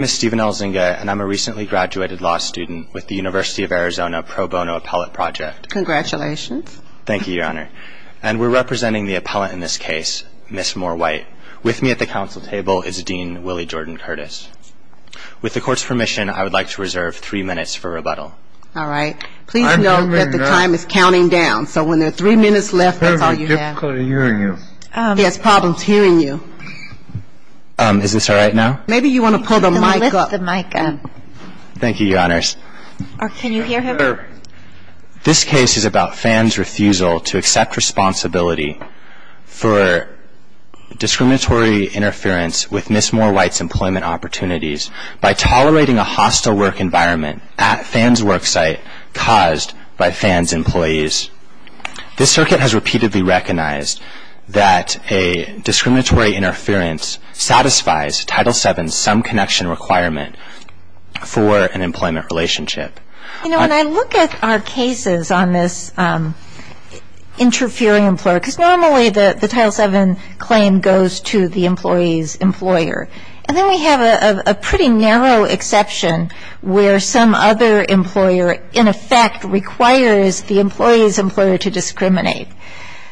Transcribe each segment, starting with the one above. I'm a recently graduated law student with the University of Arizona Pro Bono Appellate Project. Congratulations. Thank you, Your Honor. And we're representing the appellant in this case, Ms. Moore-White. With me at the council table is Dean Willie Jordan-Curtis. With the court's permission, I would like to reserve three minutes for rebuttal. All right. Please note that the time is counting down, so when there are three minutes left, that's all you have. I'm having difficulty hearing you. He has problems hearing you. Is this all right now? Maybe you want to pull the mic up. Thank you, Your Honors. Can you hear him? This case is about Fann's refusal to accept responsibility for discriminatory interference with Ms. Moore-White's employment opportunities by tolerating a hostile work environment at Fann's work site caused by Fann's employees. This circuit has repeatedly recognized that a discriminatory interference satisfies Title VII's sum connection requirement for an employment relationship. You know, when I look at our cases on this interfering employer, because normally the Title VII claim goes to the employee's employer, and then we have a pretty narrow exception where some other employer, in effect, requires the employee's employer to discriminate.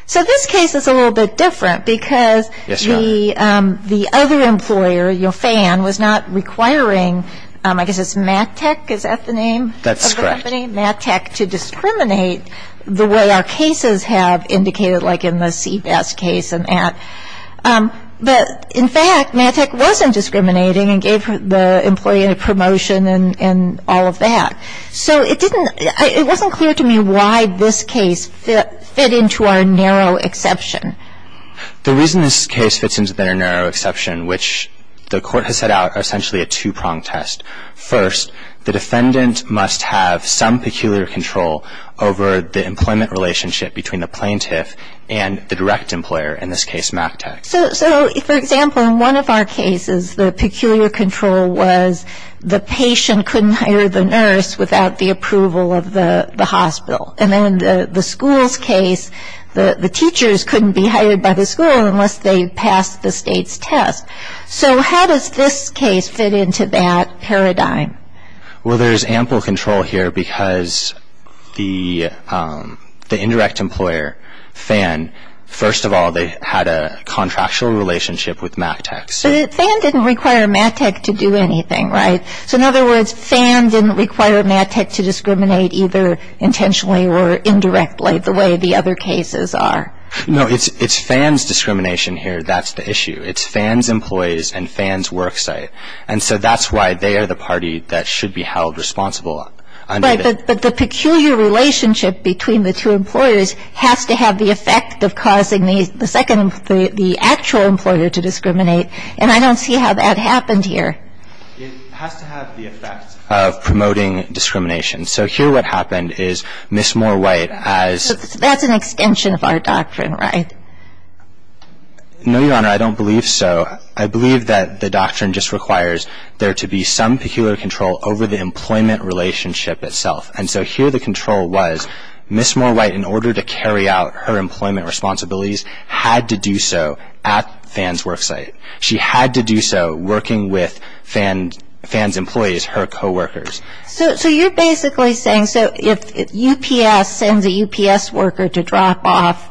So this case is a little bit different because the other employer, you know, Fann, was not requiring, I guess it's MATEC, is that the name of the company? That's correct. MATEC to discriminate the way our cases have indicated, like in the CBAS case and that. But, in fact, MATEC wasn't discriminating and gave the employee a promotion and all of that. So it wasn't clear to me why this case fit into our narrow exception. The reason this case fits into our narrow exception, which the Court has set out, are essentially a two-pronged test. First, the defendant must have some peculiar control over the employment relationship between the plaintiff and the direct employer, in this case MATEC. So, for example, in one of our cases, the peculiar control was the patient couldn't hire the nurse without the approval of the hospital. And then in the school's case, the teachers couldn't be hired by the school unless they passed the state's test. So how does this case fit into that paradigm? Well, there's ample control here because the indirect employer, FAN, first of all, they had a contractual relationship with MATEC. But FAN didn't require MATEC to do anything, right? So, in other words, FAN didn't require MATEC to discriminate either intentionally or indirectly the way the other cases are. No, it's FAN's discrimination here that's the issue. It's FAN's employees and FAN's work site. And so that's why they are the party that should be held responsible. Right, but the peculiar relationship between the two employers has to have the effect of causing the second employer, the actual employer, to discriminate. And I don't see how that happened here. It has to have the effect of promoting discrimination. So here what happened is Ms. Moore White, as — So that's an extension of our doctrine, right? No, Your Honor, I don't believe so. I believe that the doctrine just requires there to be some peculiar control over the employment relationship itself. And so here the control was Ms. Moore White, in order to carry out her employment responsibilities, had to do so at FAN's work site. She had to do so working with FAN's employees, her coworkers. So you're basically saying, so if UPS sends a UPS worker to drop off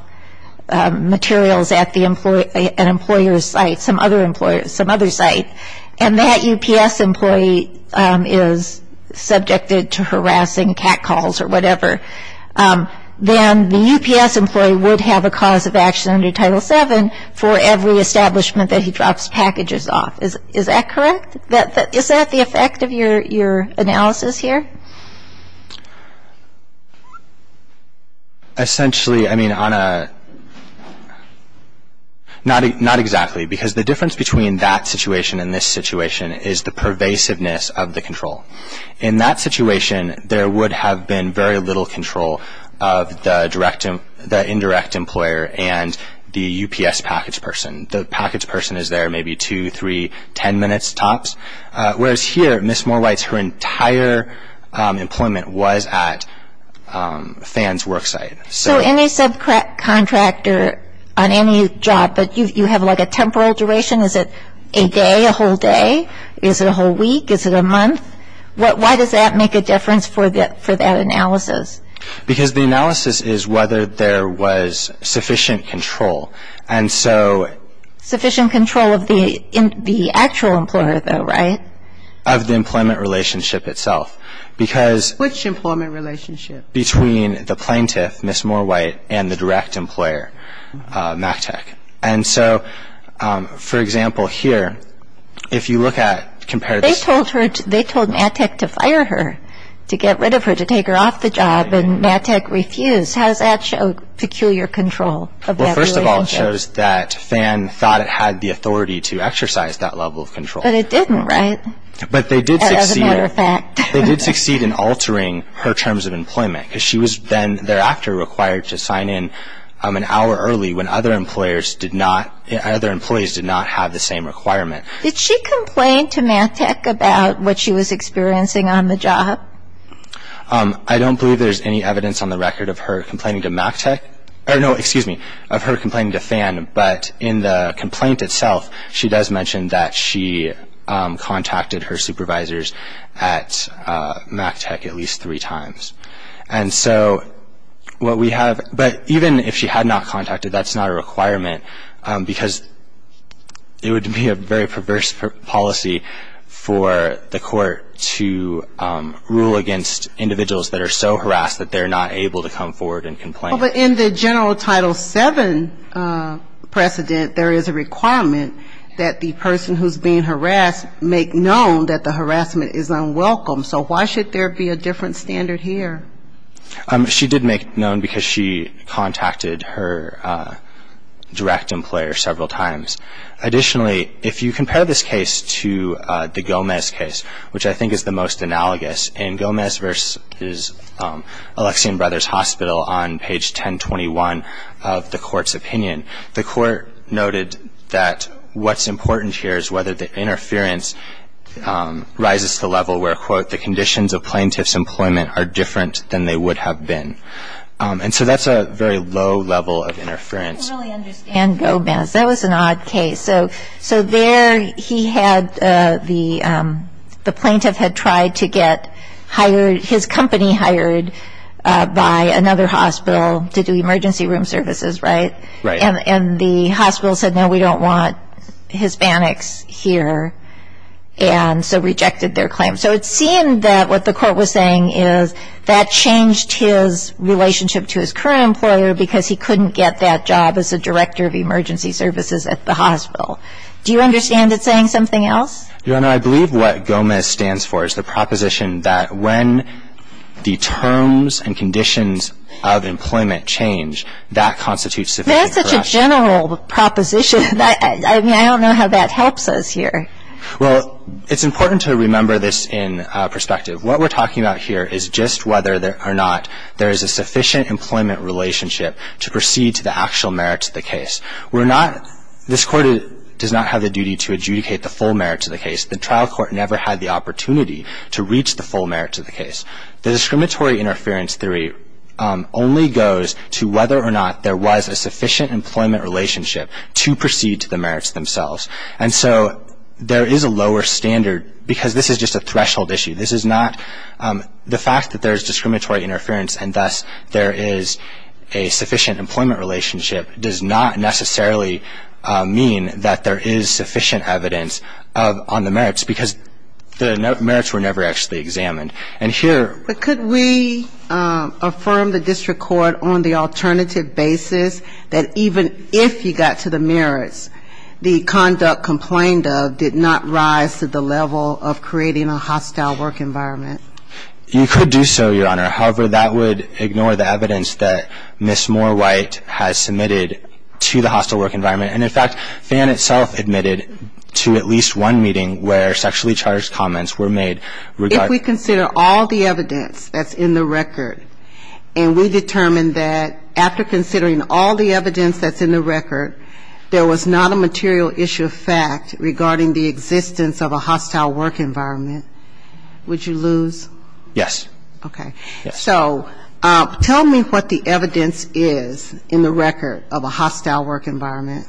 materials at an employer's site, some other site, and that UPS employee is subjected to harassing catcalls or whatever, then the UPS employee would have a cause of action under Title VII for every establishment that he drops packages off. Is that correct? Is that the effect of your analysis here? Okay. Essentially, I mean, on a — not exactly, because the difference between that situation and this situation is the pervasiveness of the control. In that situation, there would have been very little control of the indirect employer and the UPS package person. The package person is there maybe two, three, ten minutes tops. Whereas here, Ms. Moore White's entire employment was at FAN's work site. So any subcontractor on any job, but you have like a temporal duration. Is it a day, a whole day? Is it a whole week? Is it a month? Why does that make a difference for that analysis? Because the analysis is whether there was sufficient control. Sufficient control of the actual employer though, right? Of the employment relationship itself. Which employment relationship? Between the plaintiff, Ms. Moore White, and the direct employer, MATEC. And so, for example, here, if you look at — They told MATEC to fire her, to get rid of her, to take her off the job, and MATEC refused. How does that show peculiar control of that relationship? First of all, it shows that FAN thought it had the authority to exercise that level of control. But it didn't, right? But they did succeed. As a matter of fact. They did succeed in altering her terms of employment, because she was then thereafter required to sign in an hour early when other employees did not have the same requirement. Did she complain to MATEC about what she was experiencing on the job? I don't believe there's any evidence on the record of her complaining to MATEC. Or, no, excuse me, of her complaining to FAN. But in the complaint itself, she does mention that she contacted her supervisors at MATEC at least three times. And so what we have — but even if she had not contacted, that's not a requirement, because it would be a very perverse policy for the court to rule against individuals that are so harassed that they're not able to come forward and complain. Well, but in the general Title VII precedent, there is a requirement that the person who's being harassed make known that the harassment is unwelcome. So why should there be a different standard here? She did make known because she contacted her direct employer several times. Additionally, if you compare this case to the Gomez case, which I think is the most analogous, and Gomez versus Alexian Brothers Hospital on page 1021 of the court's opinion, the court noted that what's important here is whether the interference rises to the level where, quote, the conditions of plaintiff's employment are different than they would have been. And so that's a very low level of interference. I don't really understand Gomez. That was an odd case. So there he had the plaintiff had tried to get hired, his company hired by another hospital to do emergency room services, right? Right. And the hospital said, no, we don't want Hispanics here, and so rejected their claim. So it seemed that what the court was saying is that changed his relationship to his current employer because he couldn't get that job as a director of emergency services at the hospital. Do you understand it's saying something else? Your Honor, I believe what Gomez stands for is the proposition that when the terms and conditions of employment change, that constitutes sufficient corruption. That's such a general proposition. I mean, I don't know how that helps us here. Well, it's important to remember this in perspective. What we're talking about here is just whether or not there is a sufficient employment relationship to proceed to the actual merits of the case. We're not – this Court does not have the duty to adjudicate the full merits of the case. The trial court never had the opportunity to reach the full merits of the case. The discriminatory interference theory only goes to whether or not there was a sufficient employment relationship to proceed to the merits themselves. And so there is a lower standard because this is just a threshold issue. This is not – the fact that there is discriminatory interference and thus there is a sufficient employment relationship does not necessarily mean that there is sufficient evidence on the merits because the merits were never actually examined. And here – But could we affirm the district court on the alternative basis that even if you got to the merits, the conduct complained of did not rise to the level of creating a hostile work environment? You could do so, Your Honor. However, that would ignore the evidence that Ms. Moore-White has submitted to the hostile work environment. And, in fact, FAN itself admitted to at least one meeting where sexually charged comments were made. If we consider all the evidence that's in the record and we determine that after considering all the evidence that's in the record, there was not a material issue of fact regarding the existence of a hostile work environment, would you lose? Yes. Okay. Yes. So tell me what the evidence is in the record of a hostile work environment.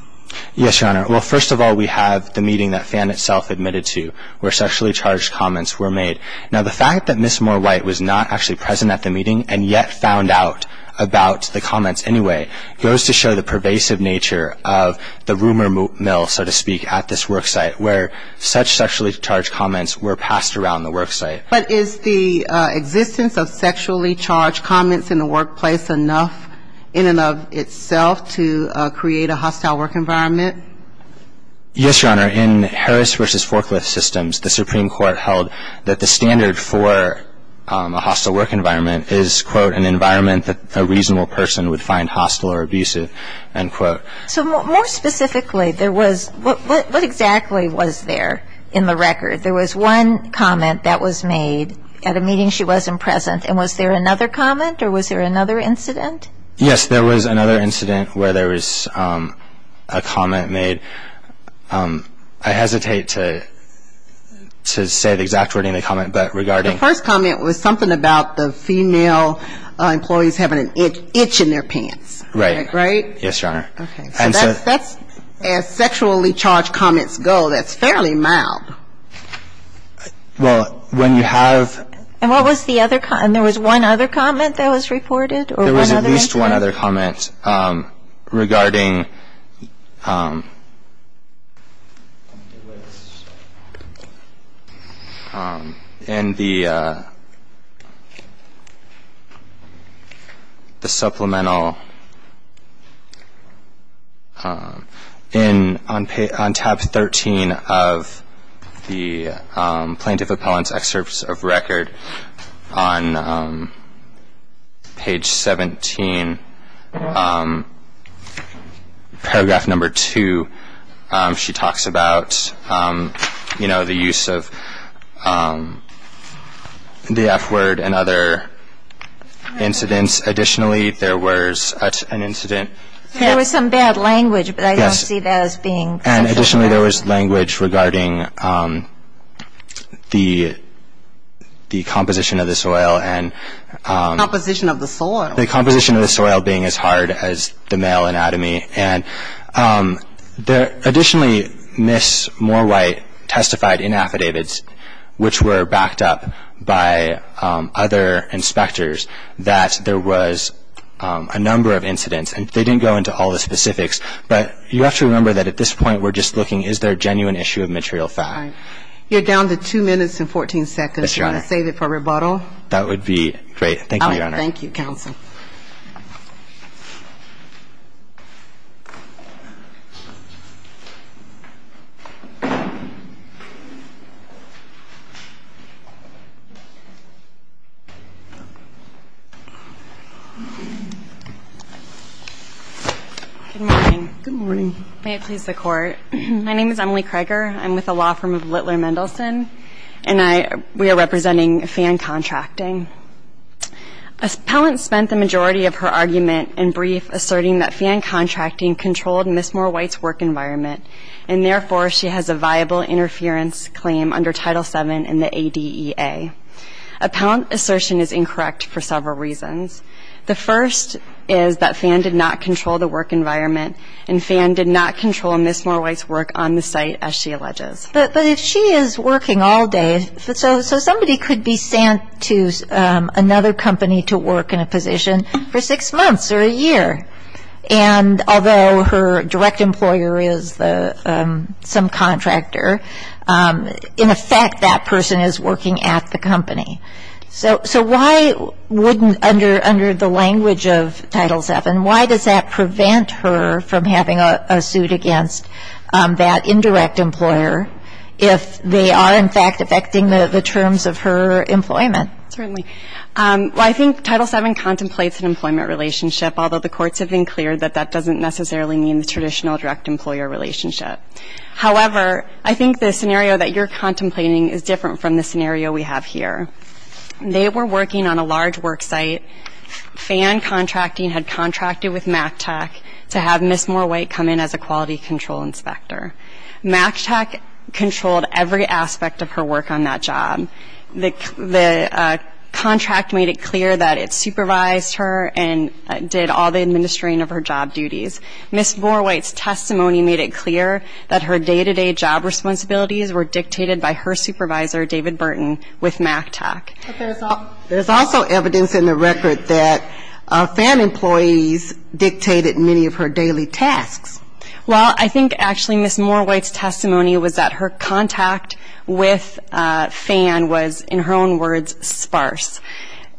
Yes, Your Honor. Well, first of all, we have the meeting that FAN itself admitted to where sexually charged comments were made. Now, the fact that Ms. Moore-White was not actually present at the meeting and yet found out about the comments anyway goes to show the pervasive nature of the rumor mill, so to speak, at this worksite where such sexually charged comments were passed around the worksite. But is the existence of sexually charged comments in the workplace enough in and of itself to create a hostile work environment? Yes, Your Honor. In Harris v. Forklift Systems, the Supreme Court held that the standard for a hostile work environment is, quote, an environment that a reasonable person would find hostile or abusive, end quote. So more specifically, what exactly was there in the record? There was one comment that was made at a meeting she wasn't present. And was there another comment or was there another incident? Yes, there was another incident where there was a comment made. I hesitate to say the exact wording of the comment, but regarding the first comment was something about the female employees having an itch in their pants. Right. Right? Yes, Your Honor. Okay. As sexually charged comments go, that's fairly mild. Well, when you have And what was the other comment? And there was one other comment that was reported or one other incident? There was at least one other comment regarding in the supplemental on tab 13 of the Plaintiff Appellant's Excerpt of Record on page 17, paragraph number 2. She talks about, you know, the use of the F word and other incidents. Additionally, there was an incident. There was some bad language, but I don't see that as being sexually charged. Additionally, there was language regarding the composition of the soil and Composition of the soil? The composition of the soil being as hard as the male anatomy. And additionally, Ms. Morewhite testified in affidavits, which were backed up by other inspectors, that there was a number of incidents. incidents. They didn't go into all the specifics. But you have to remember that at this point, we're just looking, is there a genuine issue of material fact? You're down to two minutes and 14 seconds. Yes, Your Honor. Do you want to save it for rebuttal? Thank you, Your Honor. Thank you, counsel. Thank you. Good morning. Good morning. May it please the Court. My name is Emily Kreger. I'm with the law firm of Littler Mendelsohn. And we are representing Fan Contracting. Appellant spent the majority of her argument in brief asserting that Fan Contracting controlled Ms. Morewhite's work environment. And therefore, she has a viable interference claim under Title VII in the ADEA. Appellant's assertion is incorrect for several reasons. The first is that Fan did not control the work environment, and Fan did not control Ms. Morewhite's work on the site, as she alleges. But if she is working all day, so somebody could be sent to another company to work in a position for six months or a year. And although her direct employer is some contractor, in effect that person is working at the company. So why wouldn't, under the language of Title VII, why does that prevent her from having a suit against that indirect employer if they are, in fact, affecting the terms of her employment? Certainly. Well, I think Title VII contemplates an employment relationship, although the courts have been clear that that doesn't necessarily mean the traditional direct employer relationship. However, I think the scenario that you're contemplating is different from the scenario we have here. They were working on a large work site. Fan Contracting had contracted with MACTAC to have Ms. Morewhite come in as a quality control inspector. MACTAC controlled every aspect of her work on that job. The contract made it clear that it supervised her and did all the administering of her job duties. Ms. Morewhite's testimony made it clear that her day-to-day job responsibilities were dictated by her supervisor, David Burton, with MACTAC. But there's also evidence in the record that FAN employees dictated many of her daily tasks. Well, I think actually Ms. Morewhite's testimony was that her contact with FAN was, in her own words, sparse.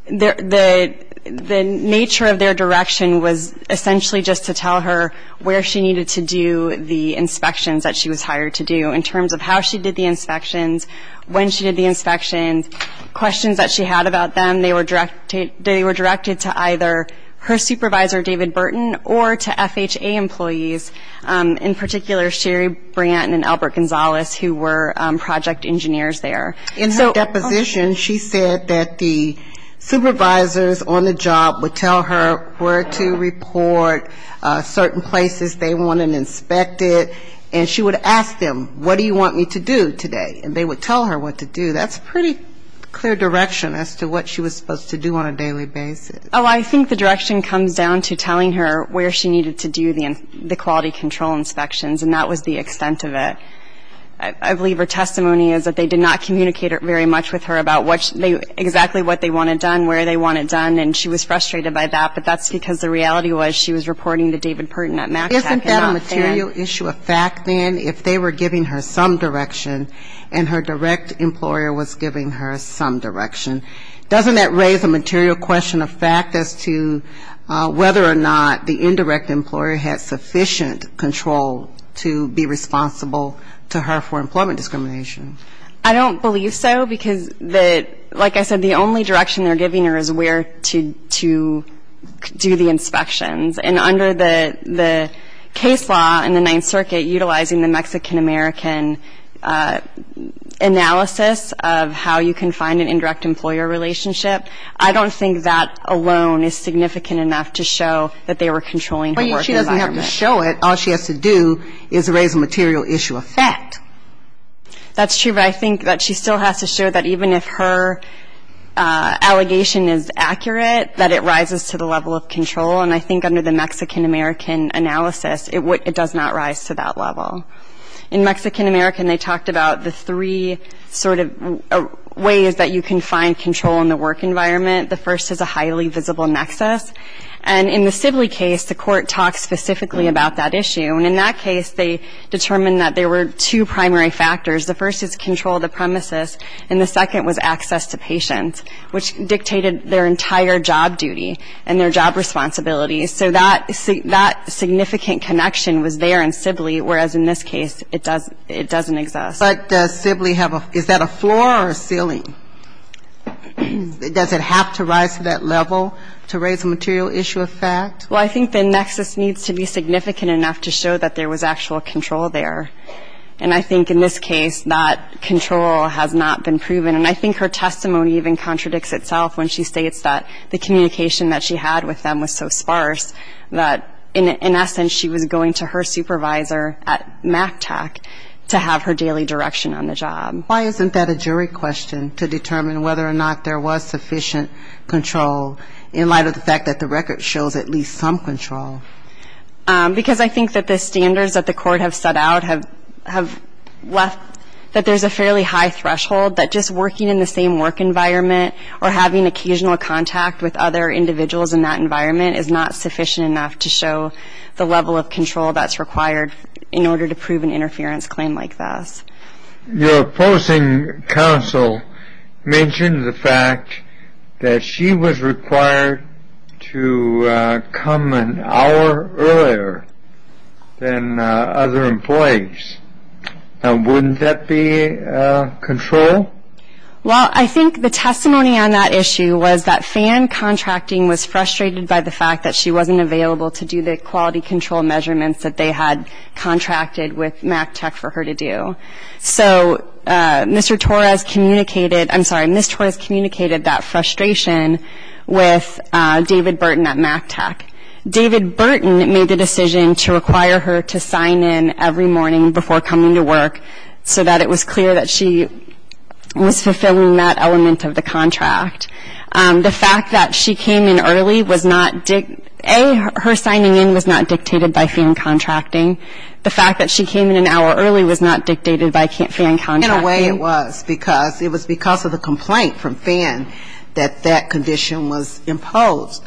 The nature of their direction was essentially just to tell her where she needed to do the inspections that she was hired to do in terms of how she did the inspections, when she did the inspections, questions that she had about them. They were directed to either her supervisor, David Burton, or to FHA employees, in particular Sherry Branton and Albert Gonzalez, who were project engineers there. In her deposition, she said that the supervisors on the job would tell her where to report certain places they wanted inspected, and she would ask them, what do you want me to do today? And they would tell her what to do. That's pretty clear direction as to what she was supposed to do on a daily basis. Oh, I think the direction comes down to telling her where she needed to do the quality control inspections, and that was the extent of it. I believe her testimony is that they did not communicate very much with her about exactly what they wanted done, where they wanted done, and she was frustrated by that. But that's because the reality was she was reporting to David Burton at MACTAC and not FAN. Did that material issue affect then if they were giving her some direction and her direct employer was giving her some direction? Doesn't that raise a material question of fact as to whether or not the indirect employer had sufficient control to be responsible to her for employment discrimination? I don't believe so, because the, like I said, the only direction they're giving her is where to do the inspections. And under the case law in the Ninth Circuit utilizing the Mexican-American analysis of how you can find an indirect employer relationship, I don't think that alone is significant enough to show that they were controlling her work environment. Well, she doesn't have to show it. All she has to do is raise a material issue of fact. That's true, but I think that she still has to show that even if her allegation is accurate, that it rises to the level of control. And I think under the Mexican-American analysis, it does not rise to that level. In Mexican-American, they talked about the three sort of ways that you can find control in the work environment. The first is a highly visible nexus. And in the Sibley case, the court talked specifically about that issue. And in that case, they determined that there were two primary factors. The first is control of the premises, and the second was access to patients, which dictated their entire job duty and their job responsibilities. So that significant connection was there in Sibley, whereas in this case, it doesn't exist. But does Sibley have a – is that a floor or a ceiling? Does it have to rise to that level to raise a material issue of fact? Well, I think the nexus needs to be significant enough to show that there was actual control there. And I think in this case, that control has not been proven. And I think her testimony even contradicts itself when she states that the communication that she had with them was so sparse that in essence she was going to her supervisor at MACTAC to have her daily direction on the job. Why isn't that a jury question to determine whether or not there was sufficient control in light of the fact that the record shows at least some control? Because I think that the standards that the court have set out have left – that just working in the same work environment or having occasional contact with other individuals in that environment is not sufficient enough to show the level of control that's required in order to prove an interference claim like this. Your opposing counsel mentioned the fact that she was required to come an hour earlier than other employees. Now, wouldn't that be control? Well, I think the testimony on that issue was that FAN contracting was frustrated by the fact that she wasn't available to do the quality control measurements that they had contracted with MACTAC for her to do. So Mr. Torres communicated – I'm sorry, Ms. Torres communicated that frustration with David Burton at MACTAC. David Burton made the decision to require her to sign in every morning before coming to work so that it was clear that she was fulfilling that element of the contract. The fact that she came in early was not – A, her signing in was not dictated by FAN contracting. The fact that she came in an hour early was not dictated by FAN contracting. In a way it was, because it was because of the complaint from FAN that that condition was imposed.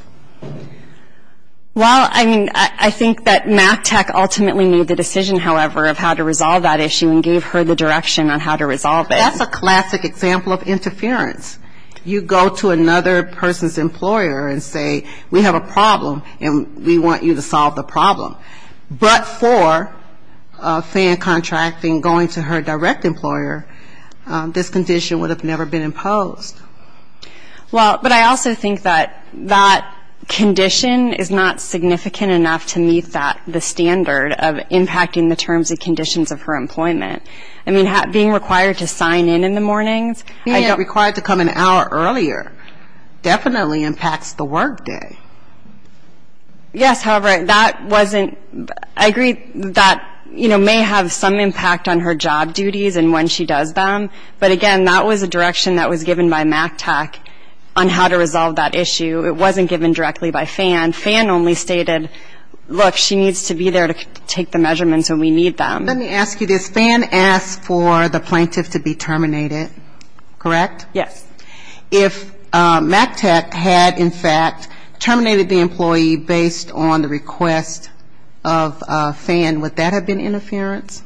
Well, I mean, I think that MACTAC ultimately made the decision, however, of how to resolve that issue and gave her the direction on how to resolve it. That's a classic example of interference. You go to another person's employer and say, we have a problem and we want you to solve the problem. But for FAN contracting going to her direct employer, this condition would have never been imposed. Well, but I also think that that condition is not significant enough to meet that – the standard of impacting the terms and conditions of her employment. I mean, being required to sign in in the mornings – Being required to come an hour earlier definitely impacts the workday. Yes, however, that wasn't – I agree that, you know, may have some impact on her job duties and when she does them. But again, that was a direction that was given by MACTAC on how to resolve that issue. It wasn't given directly by FAN. FAN only stated, look, she needs to be there to take the measurements when we need them. Let me ask you this. FAN asked for the plaintiff to be terminated, correct? Yes. If MACTAC had, in fact, terminated the employee based on the request of FAN, would that have been interference?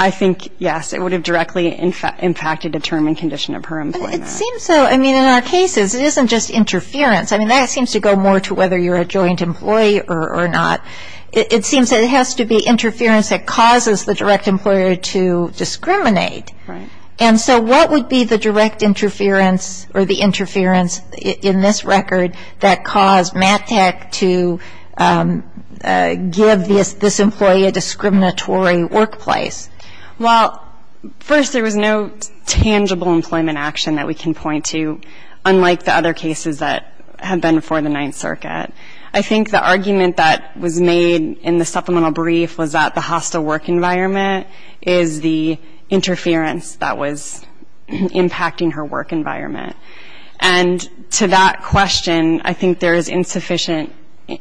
I think, yes, it would have directly impacted the term and condition of her employment. It seems so. I mean, in our cases, it isn't just interference. I mean, that seems to go more to whether you're a joint employee or not. It seems that it has to be interference that causes the direct employer to discriminate. Right. And so what would be the direct interference or the interference in this record that caused MACTAC to give this employee a discriminatory workplace? Well, first, there was no tangible employment action that we can point to, unlike the other cases that have been before the Ninth Circuit. I think the argument that was made in the supplemental brief was that the hostile work environment is the interference that was impacting her work environment. And to that question, I think there is insufficient ‑‑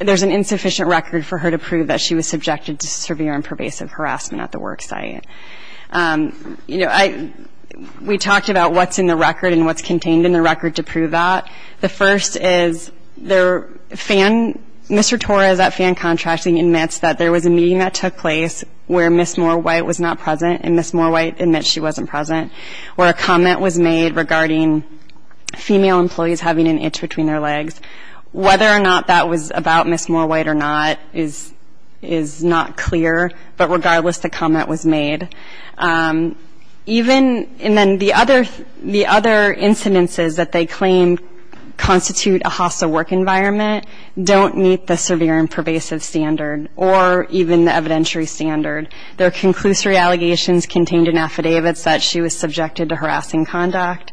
there's an insufficient record for her to prove that she was subjected to severe and pervasive harassment at the work site. You know, we talked about what's in the record and what's contained in the record to prove that. The first is the fan ‑‑ Mr. Torres at Fan Contracting admits that there was a meeting that took place where Ms. Moorwhite was not present, and Ms. Moorwhite admits she wasn't present, where a comment was made regarding female employees having an itch between their legs. Whether or not that was about Ms. Moorwhite or not is not clear, but regardless, the comment was made. Even ‑‑ and then the other ‑‑ the other incidences that they claim constitute a hostile work environment don't meet the severe and pervasive standard, or even the evidentiary standard. There are conclusory allegations contained in affidavits that she was subjected to harassing conduct.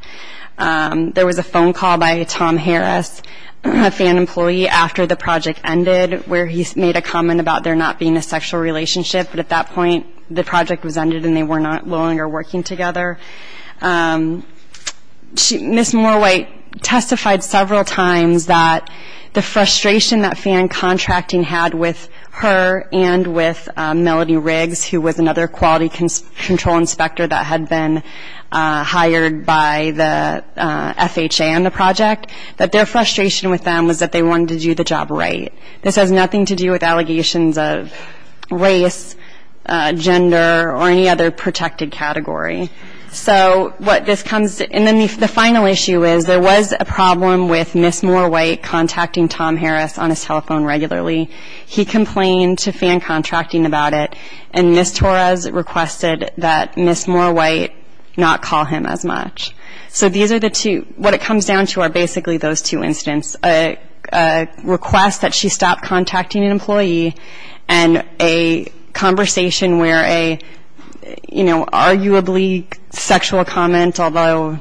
There was a phone call by a Tom Harris fan employee after the project ended, where he made a comment about there not being a sexual relationship, but at that point the project was ended and they were no longer working together. Ms. Moorwhite testified several times that the frustration that Fan Contracting had with her and with Melody Riggs, who was another quality control inspector that had been hired by the FHA on the project, that their frustration with them was that they wanted to do the job right. This has nothing to do with allegations of race, gender, or any other protected category. So what this comes ‑‑ and then the final issue is there was a problem with Ms. Moorwhite contacting Tom Harris on his telephone regularly. He complained to Fan Contracting about it, and Ms. Torres requested that Ms. Moorwhite not call him as much. So these are the two ‑‑ what it comes down to are basically those two incidents, a request that she stop contacting an employee and a conversation where a, you know, arguably sexual comment, although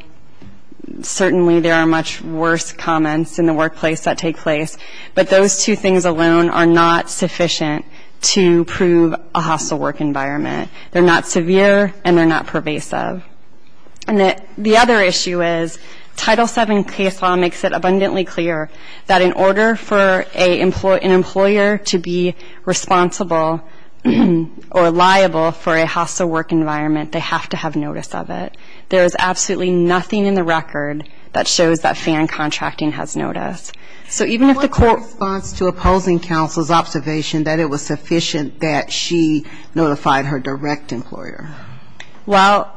certainly there are much worse comments in the workplace that take place, but those two things alone are not sufficient to prove a hostile work environment. They're not severe and they're not pervasive. And the other issue is Title VII case law makes it abundantly clear that in order for an employer to be responsible or liable for a hostile work environment, they have to have notice of it. There is absolutely nothing in the record that shows that Fan Contracting has notice. So even if the court ‑‑ What was the response to opposing counsel's observation that it was sufficient that she notified her direct employer? Well,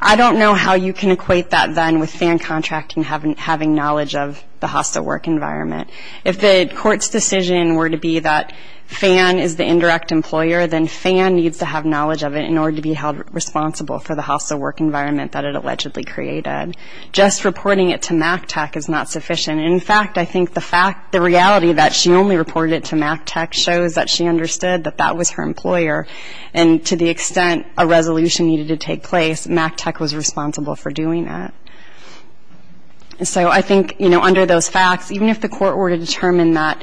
I don't know how you can equate that then with Fan Contracting having knowledge of the hostile work environment. If the court's decision were to be that Fan is the indirect employer, then Fan needs to have knowledge of it in order to be held responsible for the hostile work environment that it allegedly created. Just reporting it to MAC Tech is not sufficient. In fact, I think the reality that she only reported it to MAC Tech shows that she understood that that was her employer and to the extent a resolution needed to take place, MAC Tech was responsible for doing that. And so I think, you know, under those facts, even if the court were to determine that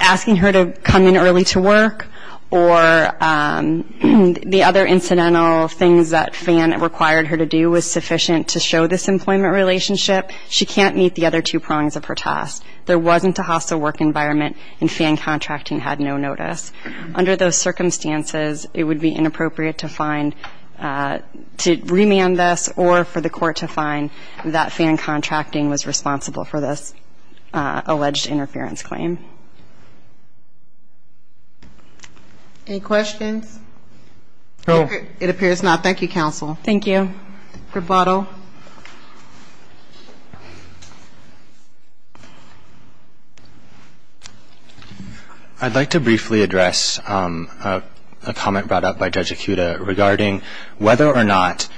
asking her to come in early to work or the other incidental things that Fan required her to do was sufficient to show this employment relationship, she can't meet the other two prongs of her task. There wasn't a hostile work environment and Fan Contracting had no notice. Under those circumstances, it would be inappropriate to find, to remand this or for the court to find that Fan Contracting was responsible for this alleged interference claim. Any questions? No. It appears not. Thank you, counsel. Thank you. I'd like to briefly address a comment brought up by Judge Ikuda regarding whether or not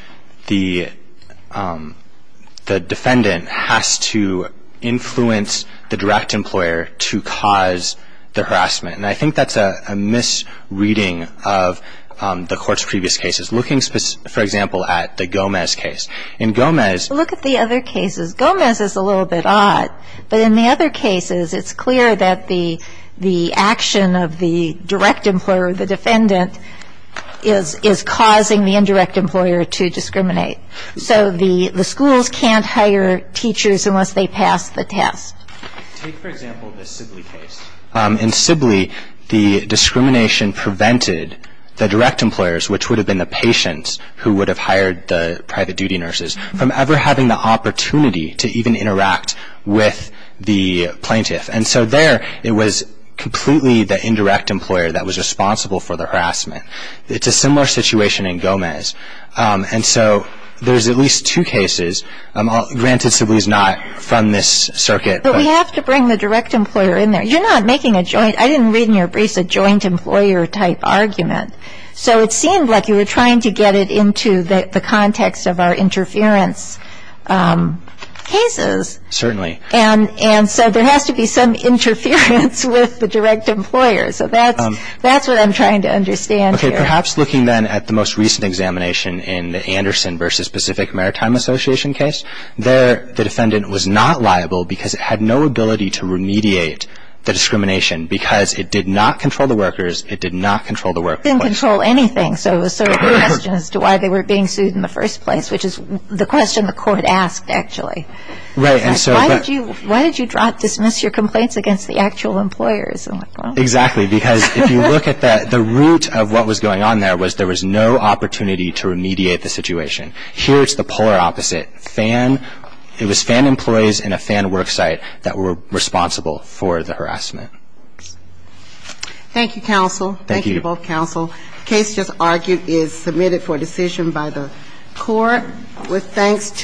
the defendant has to influence the direct employer to cause the harassment. And I think that's a misreading of the Court's previous cases. Looking, for example, at the Gomez case. In Gomez. Look at the other cases. Gomez is a little bit odd. But in the other cases, it's clear that the action of the direct employer, the defendant, is causing the indirect employer to discriminate. So the schools can't hire teachers unless they pass the test. Take, for example, the Sibley case. In Sibley, the discrimination prevented the direct employers, which would have been the patients who would have hired the private duty nurses, from ever having the opportunity to even interact with the plaintiff. And so there, it was completely the indirect employer that was responsible for the harassment. It's a similar situation in Gomez. And so there's at least two cases. Granted, Sibley is not from this circuit. But we have to bring the direct employer in there. You're not making a joint. I didn't read in your briefs a joint employer-type argument. So it seemed like you were trying to get it into the context of our interference cases. Certainly. And so there has to be some interference with the direct employer. So that's what I'm trying to understand here. Okay. Perhaps looking then at the most recent examination in the Anderson v. Pacific Maritime Association case. There, the defendant was not liable because it had no ability to remediate the discrimination because it did not control the workers. It did not control the workplace. It didn't control anything. So it was sort of a question as to why they were being sued in the first place, which is the question the court asked, actually. Right. Why did you dismiss your complaints against the actual employers? Exactly. Because if you look at that, the root of what was going on there was there was no opportunity to remediate the situation. Here, it's the polar opposite. It was FAN employees and a FAN worksite that were responsible for the harassment. Thank you, counsel. Thank you. Thank you to both counsel. The case just argued is submitted for decision by the court with thanks to